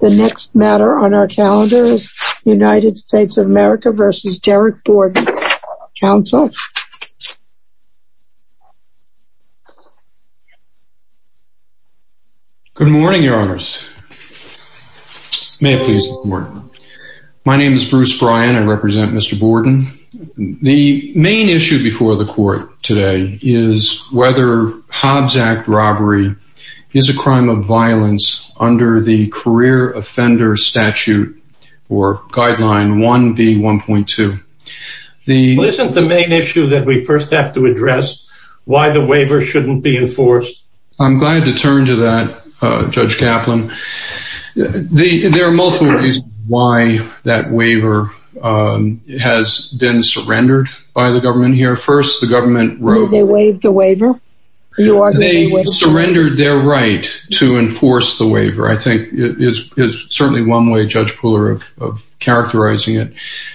The next matter on our calendar is the United States of America v. Derrick Borden. Council? Good morning, your honors. May it please the court. My name is Bruce Bryan. I represent Mr. Borden. The main issue before the court today is whether Hobbs Act robbery is a crime of violence under the career offender statute or guideline 1B1.2. Isn't the main issue that we first have to address why the waiver shouldn't be enforced? I'm glad to turn to that, Judge Kaplan. There are multiple reasons why that waiver has been surrendered by the government here. First, the government wrote... Did they waive the waiver? They surrendered their right to enforce the waiver, I think is certainly one way, Judge Pooler, of characterizing it.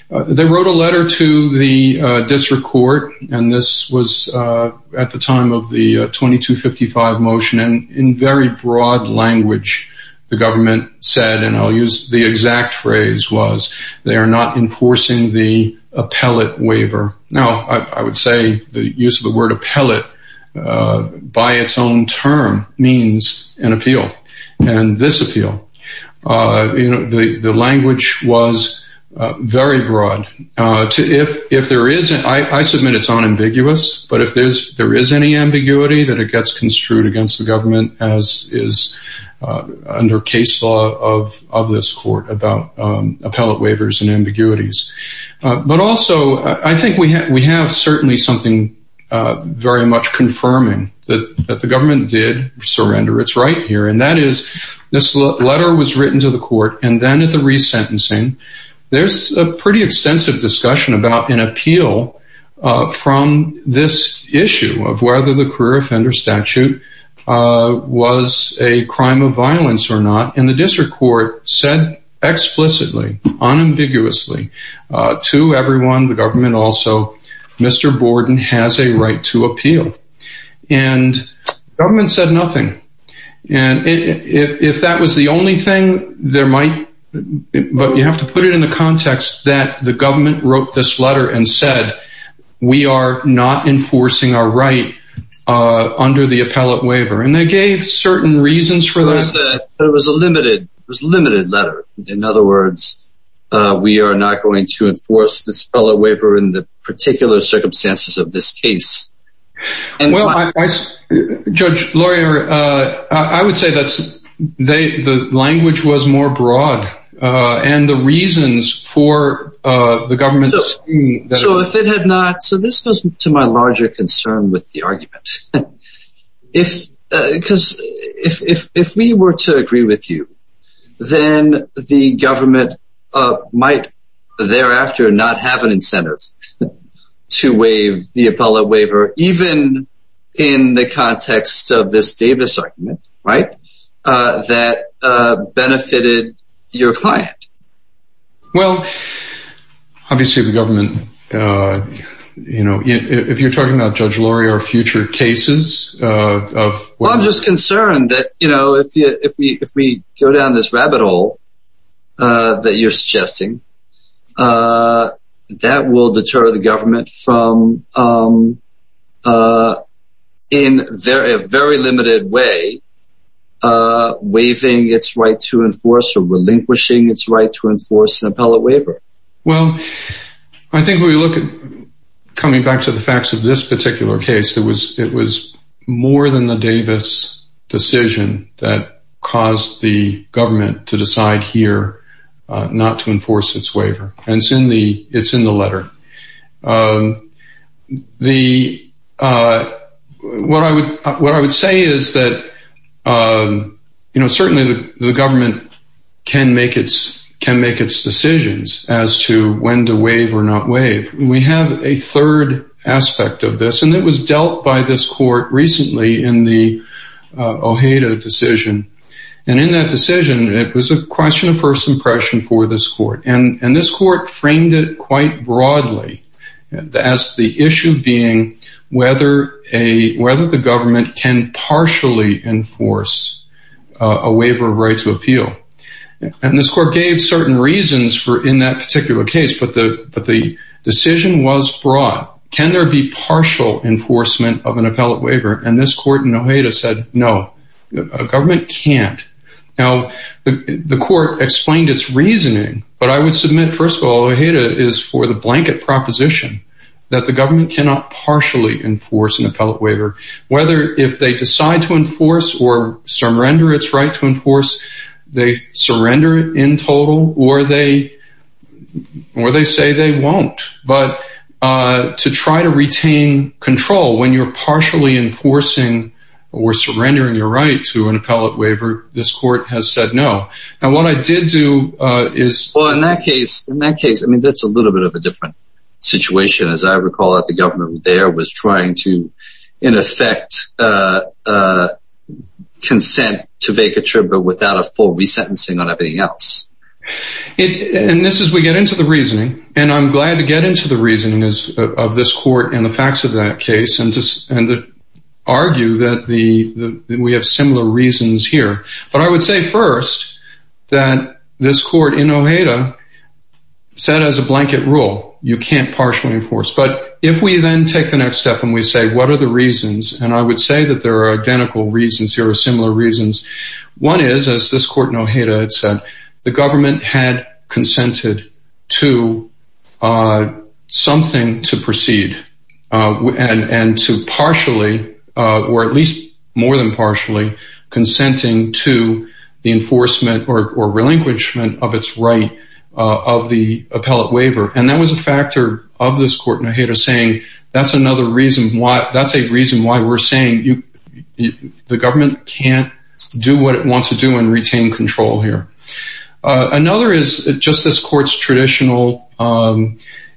They wrote a letter to the district court, and this was at the time of the 2255 motion, and in very broad language, the government said, and I'll use the exact phrase was they are not enforcing the appellate waiver. Now, I would say the use of the word appellate by its own term means an appeal, and this appeal. The language was very broad. I submit it's unambiguous, but if there is any ambiguity, then it gets construed against the government as is under case law of this court about appellate waivers and ambiguities. But also, I think we have certainly something very much confirming that the government did surrender its right here, and that is this letter was written to the court, and then at the resentencing, there's a pretty extensive discussion about an appeal from this issue of whether the career offender statute was a crime of violence or not. And the district court said explicitly, unambiguously to everyone, the government also, Mr. Borden has a right to appeal. And the government said nothing. And if that was the only thing there might, but you have to put it in the context that the we are not enforcing our right under the appellate waiver. And they gave certain reasons for that. There was a limited letter. In other words, we are not going to enforce this appellate waiver in the particular circumstances of this case. And well, Judge Laurier, I would say that the language was more broad. And the reasons for the government... So this goes to my larger concern with the argument. If because if we were to agree with you, then the government might thereafter not have an incentive to waive the appellate waiver, even in the context of this Davis argument, right, that benefited your client. Well, obviously, the government, you know, if you're talking about Judge Laurier or future cases of... I'm just concerned that, you know, if we go down this rabbit hole that you're suggesting, that will deter the government from, in a very limited way, waiving its right to enforce or appellate waiver. Well, I think when we look at coming back to the facts of this particular case, it was more than the Davis decision that caused the government to decide here not to enforce its waiver. And it's in the letter. What I would say is that, you know, certainly the government can make its decisions as to when to waive or not waive. We have a third aspect of this. And it was dealt by this court recently in the Ojeda decision. And in that decision, it was a question of first impression for this court. And this court framed it quite broadly as the issue being whether the government can partially enforce a waiver of right to appeal. And this court gave certain reasons in that particular case, but the decision was broad. Can there be partial enforcement of an appellate waiver? And this court in Ojeda said, no, a government can't. Now, the court explained its reasoning, but I would submit, first of all, Ojeda is for the blanket proposition that the government cannot partially enforce an appellate waiver, whether if they decide to enforce or surrender its right to enforce, they surrender in total or they say they won't. But to try to retain control when you're partially enforcing or surrendering your right to an appellate waiver, this court has said no. And what I did do is... Well, in that case, in that case, I mean, that's a little bit of a different situation. As I recall that the government there was trying to, in effect, consent to vacature, but without a full resentencing on everything else. And this is, we get into the reasoning, and I'm glad to get into the reasoning of this court and the facts of that case and to argue that we have similar reasons here. But I would say first that this court in Ojeda said as a blanket rule, you can't partially enforce. But if we then take the next step and we say, what are the reasons? And I would say that there are identical reasons. There are similar reasons. One is, as this court in Ojeda had said, the government had consented to something to proceed. And to partially, or at least more than partially, consenting to the enforcement or relinquishment of its right of the appellate waiver. And that was a factor of this court in Ojeda saying, that's another reason why, that's a reason why we're saying the government can't do what it wants to do and retain control here. Another is, just as court's traditional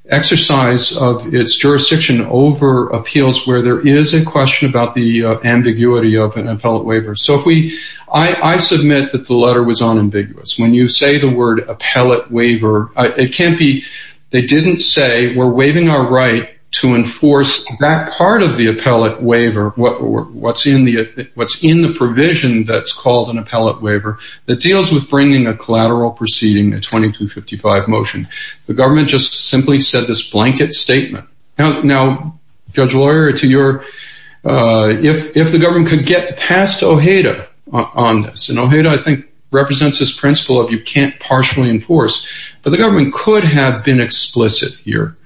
exercise of its jurisdiction over appeals where there is a question about the ambiguity of an appellate waiver. So if we, I submit that the letter was unambiguous. When you say the word appellate waiver, it can't be, they didn't say, we're waiving our right to enforce that part of the appellate waiver, what's in the provision that's called an appellate waiver that deals with bringing a collateral proceeding, a 2255 motion. The government just simply said this blanket statement. Now, Judge Lawyer, if the government could get past Ojeda on this, and Ojeda, I think, represents this principle of you can't partially enforce, but the government could have been explicit here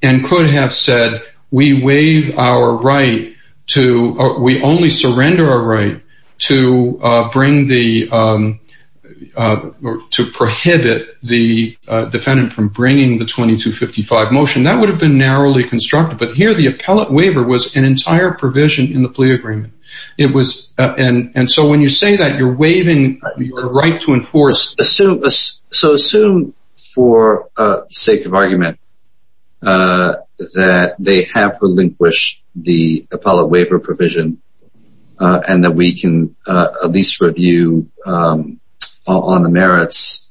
and could have said, we waive our right to, or we only surrender our right to bring the, to prohibit the defendant from bringing the 2255 motion. That would have been narrowly constructed, but here the appellate waiver was an entire provision in the plea agreement. It was, and so when you say that you're waiving your right to enforce. So assume for sake of argument, that they have relinquished the appellate waiver provision and that we can at least review on the merits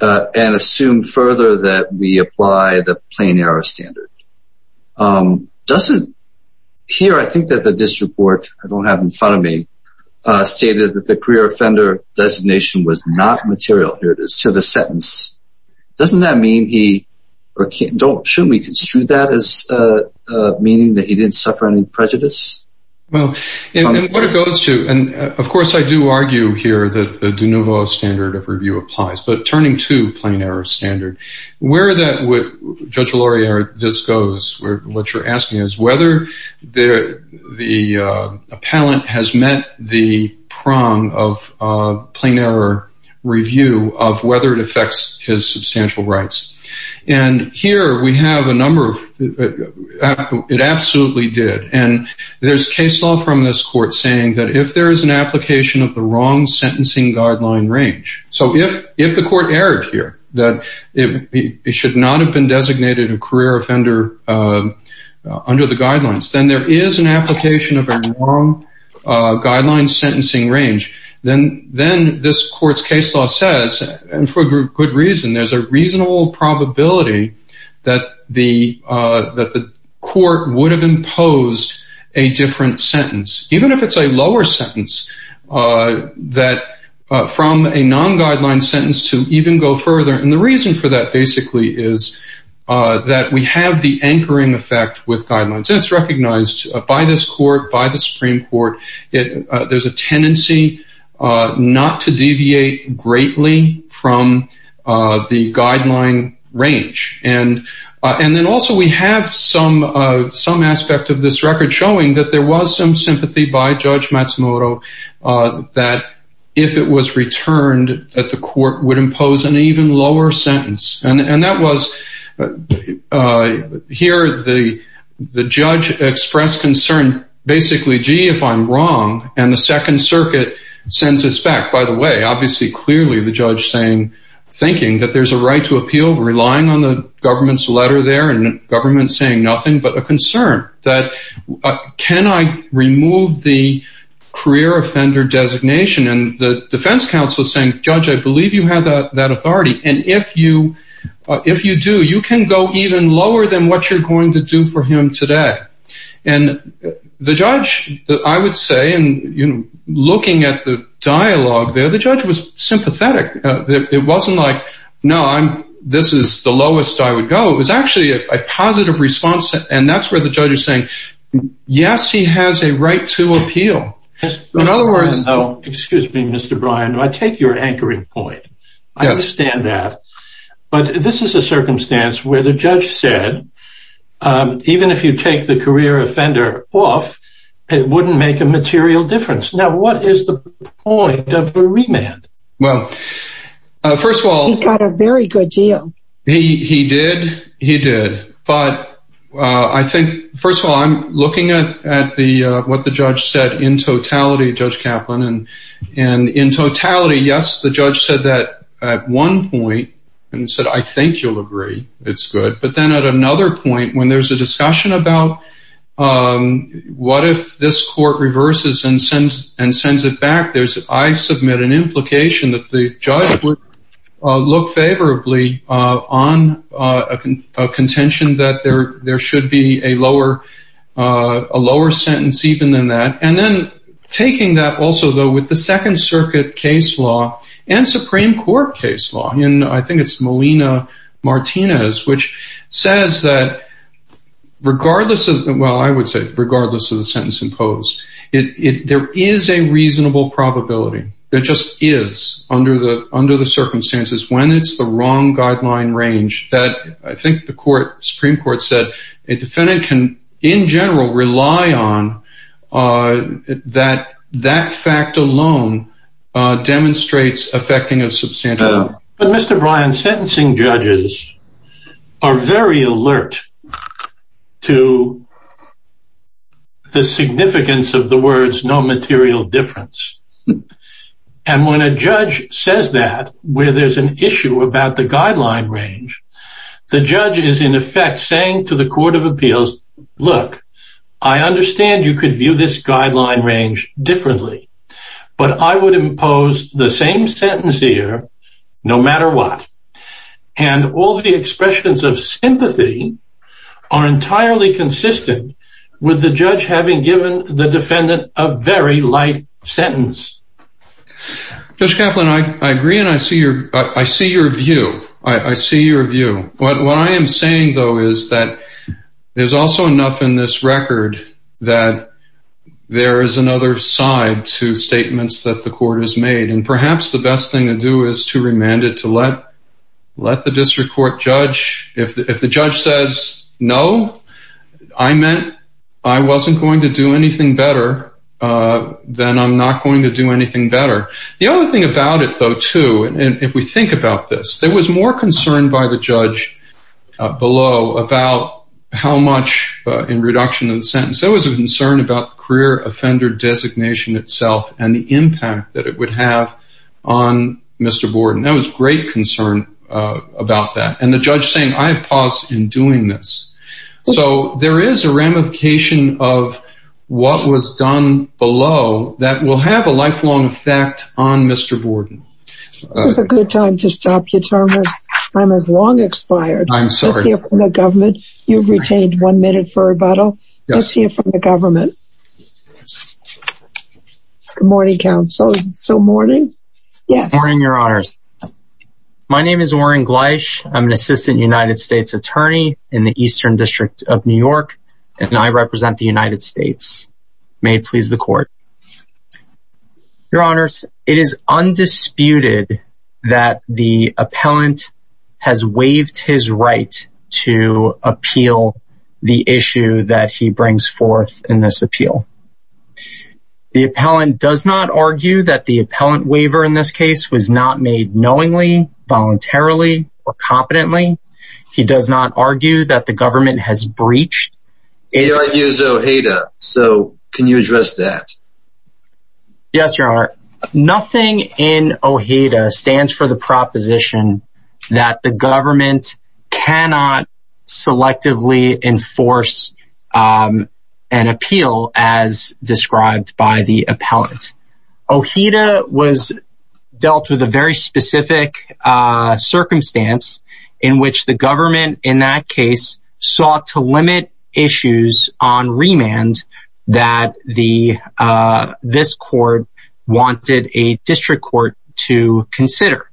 and assume further that we apply the plain error standard. Doesn't, here, I think that the district court, I don't have in front of me, stated that the career offender designation was not material, here it is, to the sentence. Doesn't that mean he, or shouldn't we construe that as meaning that he didn't suffer any prejudice? Well, and what it goes to, and of course I do argue here that the de nouveau standard of review applies, but turning to plain error standard, where that would, Judge Laurier just goes, what you're asking is whether the appellant has met the prong of plain error review of whether it affects his substantial rights. And here we have a number of, it absolutely did, and there's case law from this court saying that if there is an application of the wrong sentencing guideline range, so if the court erred here, that it should not have been designated a career offender under the guidelines, then there is an application of a wrong guideline sentencing range, then this probability that the court would have imposed a different sentence. Even if it's a lower sentence, that from a non-guideline sentence to even go further, and the reason for that basically is that we have the anchoring effect with guidelines, and it's recognized by this court, by the Supreme Court, there's a tendency not to And then also we have some aspect of this record showing that there was some sympathy by Judge Matsumoto that if it was returned that the court would impose an even lower sentence. And that was, here the judge expressed concern, basically, gee, if I'm wrong, and the Second Circuit sends us back, by the way, obviously clearly the judge thinking that there's a appeal, relying on the government's letter there, and government saying nothing, but a concern that can I remove the career offender designation, and the defense counsel saying, Judge, I believe you have that authority, and if you do, you can go even lower than what you're going to do for him today. And the judge, I would say, and looking at the dialogue there, the judge was sympathetic. It wasn't like, no, this is the lowest I would go. It was actually a positive response, and that's where the judge is saying, yes, he has a right to appeal. In other words, excuse me, Mr. Brian, I take your anchoring point. I understand that. But this is a circumstance where the judge said, even if you take the career offender off, it wouldn't make a material difference. Now, what is the point of the remand? Well, first of all- He got a very good deal. He did. He did. But I think, first of all, I'm looking at what the judge said in totality, Judge Kaplan, and in totality, yes, the judge said that at one point, and said, I think you'll agree. It's good. But then at another point, when there's a discussion about what if this court reverses and sends it back, I submit an implication that the judge would look favorably on a contention that there should be a lower sentence even than that. And then taking that also, though, with the Second Circuit case law and Supreme Court case law, and I think it's Molina-Martinez, which says that regardless of, well, I would regardless of the sentence imposed, there is a reasonable probability. There just is, under the circumstances, when it's the wrong guideline range that I think the Supreme Court said a defendant can, in general, rely on that that fact alone demonstrates affecting a substantial- But Mr. Bryan, sentencing judges are very alert to the significance of the words, no material difference. And when a judge says that, where there's an issue about the guideline range, the judge is, in effect, saying to the Court of Appeals, look, I understand you could view this guideline range differently, but I would impose the same sentence here no matter what. And all the expressions of sympathy are entirely consistent with the judge having given the defendant a very light sentence. Judge Kaplan, I agree and I see your view. I see your view. What I am saying, though, is that there's also enough in this record that there is another side to statements that the court has made, and perhaps the best thing to do is to remand it to let the district court judge. If the judge says, no, I meant I wasn't going to do anything better, then I'm not going to do anything better. The other thing about it, though, too, and if we think about this, there was more concern by the judge below about how much, in reduction of the sentence, there was a concern about the career offender designation itself and the impact that it would have on Mr. Borden. There was great concern about that. And the judge saying, I have paused in doing this. So there is a ramification of what was done below that will have a lifelong effect on Mr. Borden. This is a good time to stop you, Thomas. Time has long expired. I'm sorry. Let's hear from the government. You've retained one minute for rebuttal. Let's hear from the government. Good morning, counsel. So, morning? Yes. Morning, Your Honors. My name is Warren Gleich. I'm an assistant United States attorney in the Eastern District of New York, and I represent the United States. May it please the court. Your Honors, it is undisputed that the appellant has waived his right to appeal the issue that he brings forth in this appeal. The appellant does not argue that the appellant waiver in this case was not made knowingly, voluntarily, or competently. He does not argue that the government has breached. He argues OHEDA. So, can you address that? Yes, Your Honor. Nothing in OHEDA stands for the proposition that the government cannot selectively enforce an appeal as described by the appellant. OHEDA was dealt with a very specific circumstance in which the government, in that case, sought to limit issues on remand that this court wanted a district court to consider.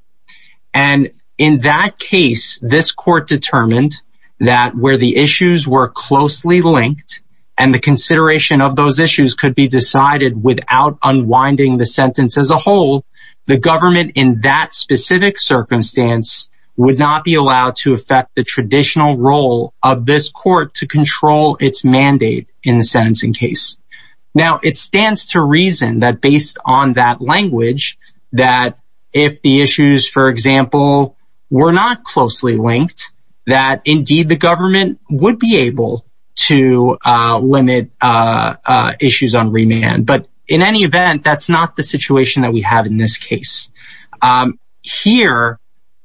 And in that case, this court determined that where the issues were closely linked, and the consideration of those issues could be decided without unwinding the sentence as a whole, the government, in that specific circumstance, would not be allowed to affect the traditional role of this court to control its mandate in the sentencing case. Now, it stands to reason that based on that language, that if the issues, for example, were not closely linked, that indeed the government would be able to limit issues on remand. But in any event, that's not the situation that we have in this case. Here,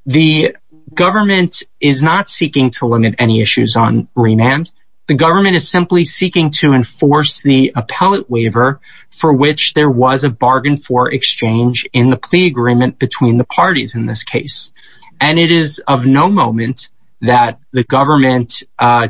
the government is not seeking to limit any issues on remand. The government is simply seeking to enforce the appellate waiver for which there was a bargain for exchange in the plea agreement between the parties in this case. And it is of no moment that the government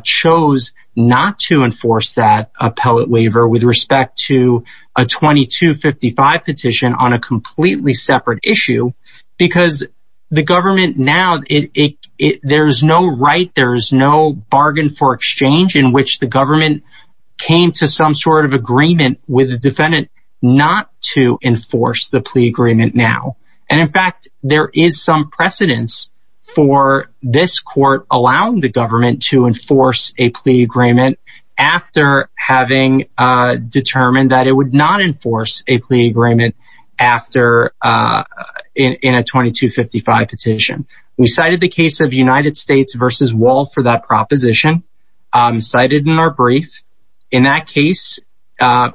chose not to enforce that appellate waiver with respect to a 2255 petition on a completely separate issue, because the government now, there is no right, there is no bargain for exchange in which the government came to some sort of agreement with the defendant not to enforce the plea agreement now. And in fact, there is some precedence for this court allowing the government to enforce a plea agreement after having determined that it would not enforce a plea agreement in a 2255 petition. We cited the case of United States v. Wall for that proposition, cited in our brief. In that case,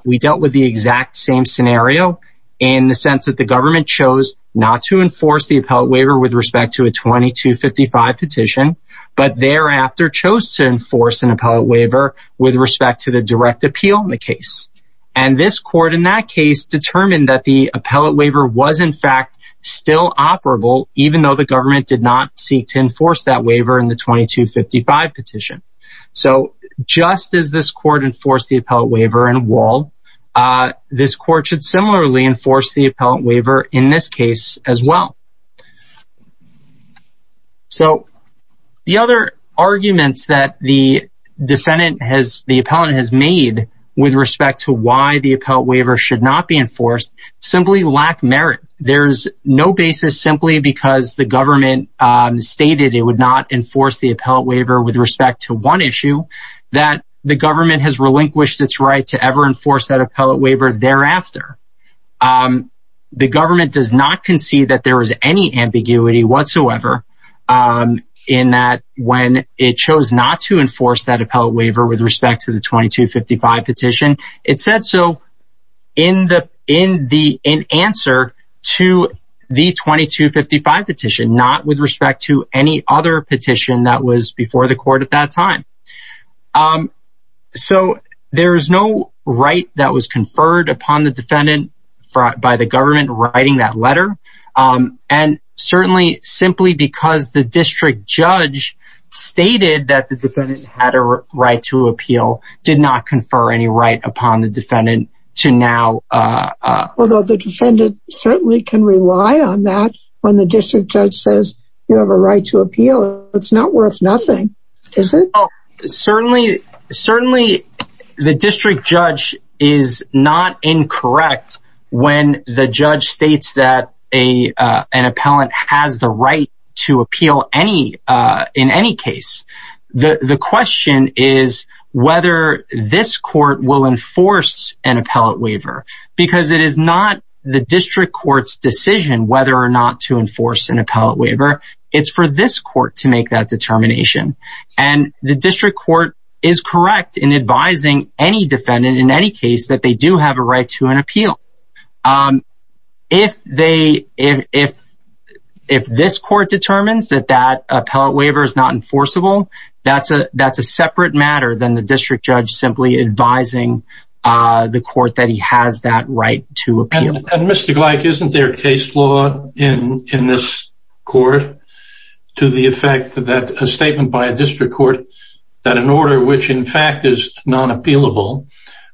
we dealt with the exact same scenario in the sense that the government chose not to enforce the appellate waiver with respect to a 2255 petition, but thereafter chose to enforce an appellate waiver with respect to the direct appeal in the case. And this court in that case determined that the appellate waiver was in fact still operable, even though the government did not seek to enforce that waiver in the 2255 petition. So, just as this court enforced the appellate waiver in Wall, this court should similarly enforce the appellate waiver in this case as well. So, the other arguments that the defendant has, the appellant has made with respect to why the appellate waiver should not be enforced simply lack merit. There's no basis simply because the government stated it would not enforce the appellate waiver with respect to one issue, that the government has relinquished its right to ever enforce that appellate waiver thereafter. The government does not concede that there is any ambiguity whatsoever in that when it chose not to enforce that appellate waiver with respect to the 2255 petition. It said so in answer to the 2255 petition, not with respect to any other petition that was before the court at that time. Um, so there's no right that was conferred upon the defendant by the government writing that letter. Um, and certainly simply because the district judge stated that the defendant had a right to appeal, did not confer any right upon the defendant to now. Although the defendant certainly can rely on that when the district judge says you have a right to appeal, it's not worth nothing, is it? Certainly, certainly the district judge is not incorrect when the judge states that a, uh, an appellant has the right to appeal any, uh, in any case. The question is whether this court will enforce an appellate waiver because it is not the district court's decision whether or not to enforce an appellate waiver. It's for this court to make that determination. And the district court is correct in advising any defendant in any case that they do have a right to an appeal. Um, if they, if, if, if this court determines that that appellate waiver is not enforceable, that's a, that's a separate matter than the district judge simply advising, uh, the court that he has that right to appeal. And, and Mr. Gleick, isn't there case law in, in this court to the effect that a statement by a district court that an order, which in fact is non-appealable,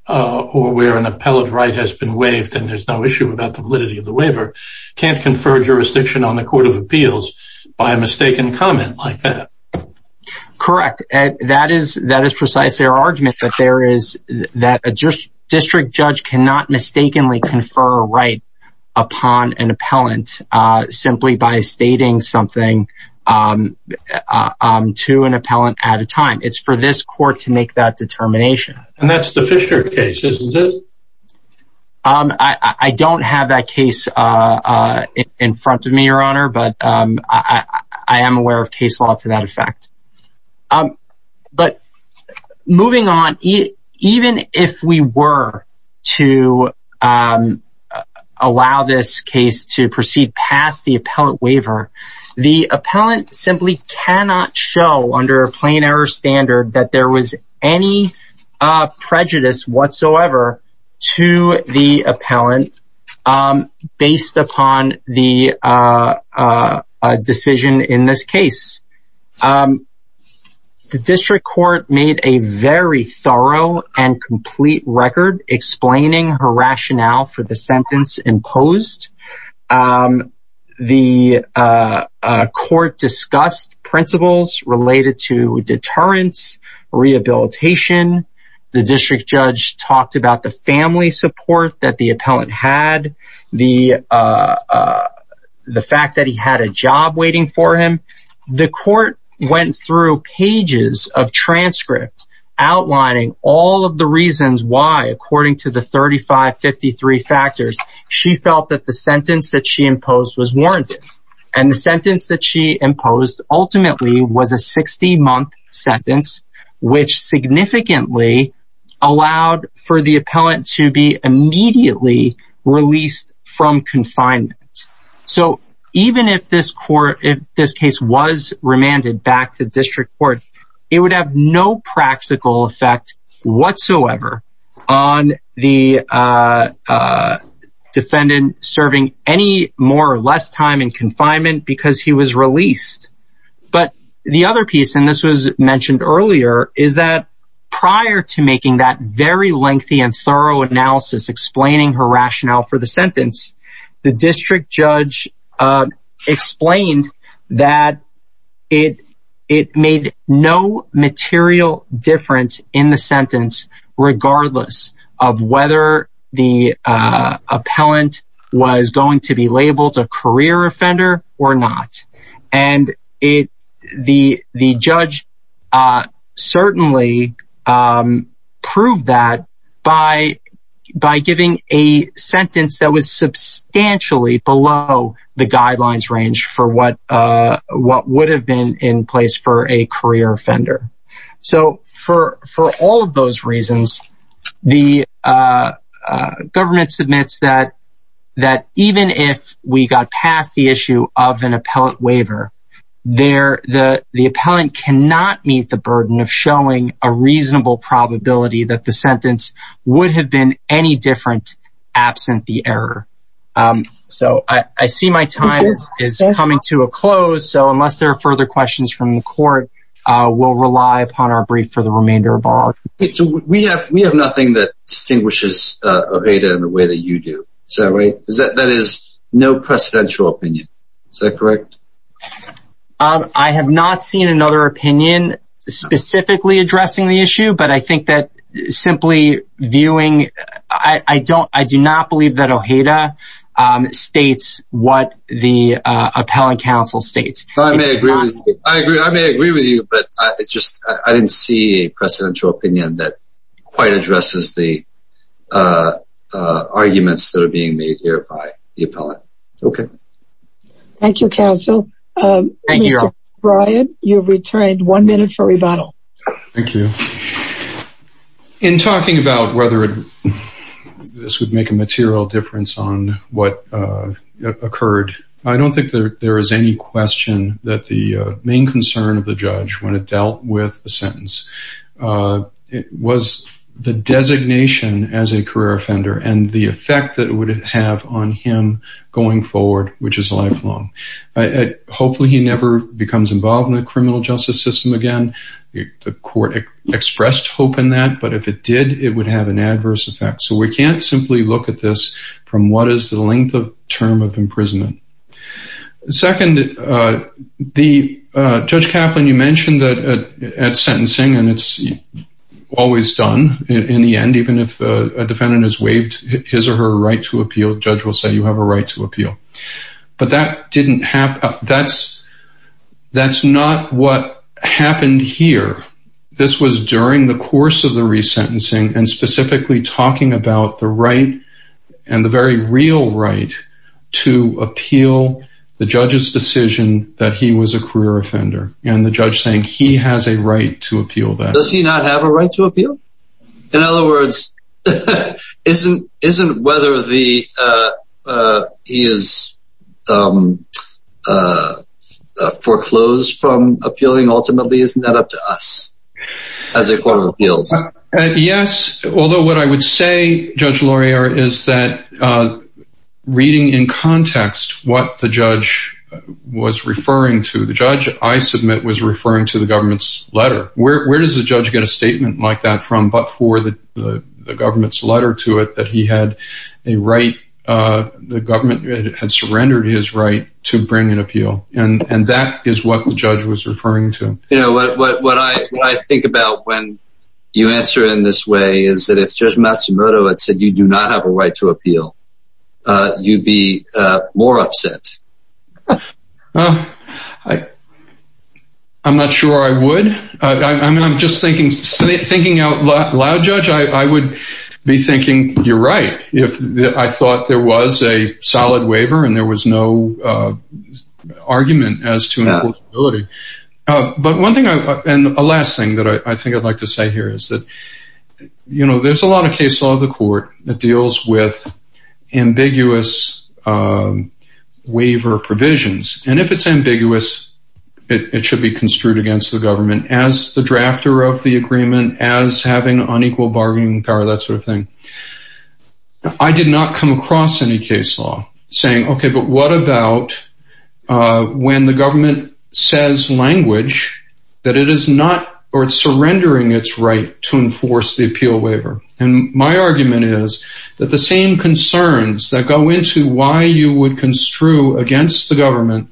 uh, or where an appellate right has been waived and there's no issue about the validity of the waiver, can't confer jurisdiction on the court of appeals by a mistaken comment like that. Correct. And that is, that is precise. Their argument that there is that a district judge cannot mistakenly confer a right upon an appellant, uh, simply by stating something, um, um, to an appellant at a time. It's for this court to make that determination. And that's the Fisher case, isn't it? Um, I, I don't have that Moving on, even if we were to, um, uh, allow this case to proceed past the appellant waiver, the appellant simply cannot show under a plain error standard that there was any, uh, prejudice whatsoever to the appellant, um, based upon the, uh, uh, uh, decision in this case. Um, the district court made a very thorough and complete record explaining her rationale for the sentence imposed. Um, the, uh, uh, court discussed principles related to deterrence, rehabilitation. The district judge talked about the family support that the appellant had the, uh, uh, the fact that he had a job waiting for him. The court went through pages of transcripts outlining all of the reasons why, according to the 3553 factors, she felt that the sentence that she imposed was warranted. And the sentence that she imposed ultimately was a 60 month sentence, which significantly allowed for the appellant to be immediately released from confinement. So even if this court, if this case was remanded back to district court, it would have no practical effect whatsoever on the, uh, uh, defendant serving any more or less time in confinement because he was released. But the other piece, and this was mentioned earlier, is that prior to making that very lengthy and thorough analysis explaining her rationale for the sentence, the district judge, uh, explained that it, it made no material difference in the offender or not. And it, the, the judge, uh, certainly, um, proved that by, by giving a sentence that was substantially below the guidelines range for what, uh, what would have been in place for a career offender. So for, for all of those reasons, the, uh, uh, government submits that, that even if we got past the issue of an appellant waiver there, the, the appellant cannot meet the burden of showing a reasonable probability that the sentence would have been any different absent the error. Um, so I, I see my time is coming to a close. So unless there are further questions from the court, uh, we'll rely upon our brief for the Is that right? Is that, that is no precedential opinion. Is that correct? Um, I have not seen another opinion specifically addressing the issue, but I think that simply viewing, I don't, I do not believe that Ojeda, um, states what the, uh, appellant council states. I may agree with you, but it's just, I didn't see a precedential opinion that quite addresses the, uh, uh, arguments that are being made here by the appellant. Okay. Thank you, counsel. Um, Brian, you've returned one minute for rebuttal. Thank you. In talking about whether this would make a material difference on what, uh, occurred. I don't think that there is any question that the main concern of the judge when it dealt with the sentence, uh, it was the designation as a career offender and the effect that it would have on him going forward, which is lifelong. Hopefully he never becomes involved in the criminal justice system again. The court expressed hope in that, but if it did, it would have an adverse effect. So we can't simply look at this from what is the length of term of imprisonment. Second, uh, the, uh, Judge Kaplan, you mentioned that at sentencing, and it's always done in the end, even if a defendant has waived his or her right to appeal, judge will say you have a right to appeal. But that didn't happen. That's not what happened here. This was during the course of the judge's decision that he was a career offender and the judge saying he has a right to appeal that. Does he not have a right to appeal? In other words, isn't, isn't whether the, uh, uh, he is, um, uh, uh, foreclosed from appealing ultimately, isn't that up to us as a court of appeals? Yes. Although what I would say, Judge Laurier, is that, uh, reading in context, what the judge was referring to, the judge I submit was referring to the government's letter. Where, where does the judge get a statement like that from, but for the, the government's letter to it, that he had a right, uh, the government had surrendered his right to bring an appeal. And, and that is what the judge was referring to. You know, what, what, what I think about when you answer in this way is that if Judge Matsumoto had said, you do not have a right to appeal, uh, you'd be, uh, more upset. Uh, I, I'm not sure I would. I mean, I'm just thinking, thinking out loud, Judge, I, I would be thinking you're right. If I thought there was a solid waiver and there was no, uh, argument as to, uh, but one thing I, and the last thing that I think I'd like to say here is that, you know, there's a lot of case law of the court that deals with ambiguous, um, waiver provisions. And if it's ambiguous, it should be construed against the government as the drafter of the agreement, as having unequal bargaining power, that sort of thing. I did not come across any case law saying, okay, but what about, uh, when the government says language that it is not, or it's surrendering its right to enforce the appeal waiver. And my argument is that the same concerns that go into why you would construe against the government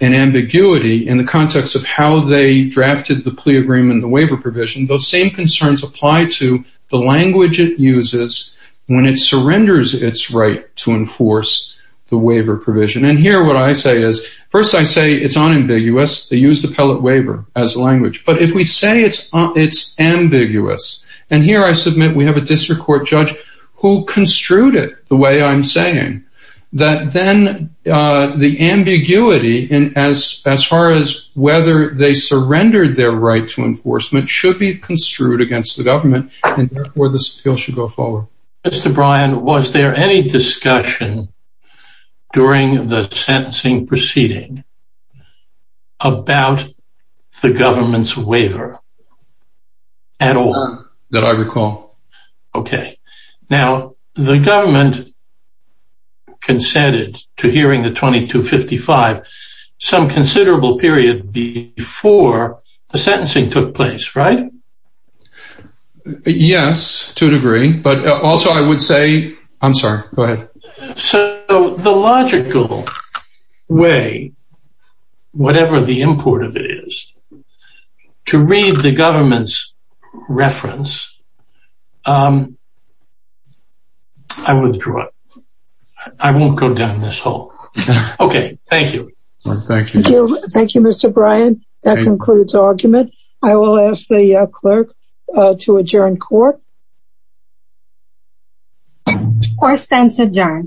an ambiguity in the context of how they drafted the plea agreement, the waiver provision, those same concerns apply to the language it uses when it surrenders its right to enforce the waiver provision. And here, what I say is first, I say it's unambiguous. They use the pellet waiver as language, but if we say it's, uh, it's ambiguous. And here I submit, we have a district court judge who construed it the way I'm saying that then, uh, the ambiguity in as, as far as whether they surrendered their right to enforcement should be construed against the government. And therefore the appeal should go forward. Mr. Bryan, was there any discussion during the sentencing proceeding about the government's waiver at all? That I recall. Okay. Now the government consented to hearing the 2255 some considerable period before the sentencing took place, right? Yes, to a degree, but also I would say, I'm sorry, go ahead. So the logical way, whatever the import of it is, to read the government's reference, I withdraw it. I won't go down this hole. Okay. Thank you. Thank you. Thank you, Mr. Bryan. That concludes argument. I will ask the, uh, clerk, uh, to adjourn court. Court stands adjourned.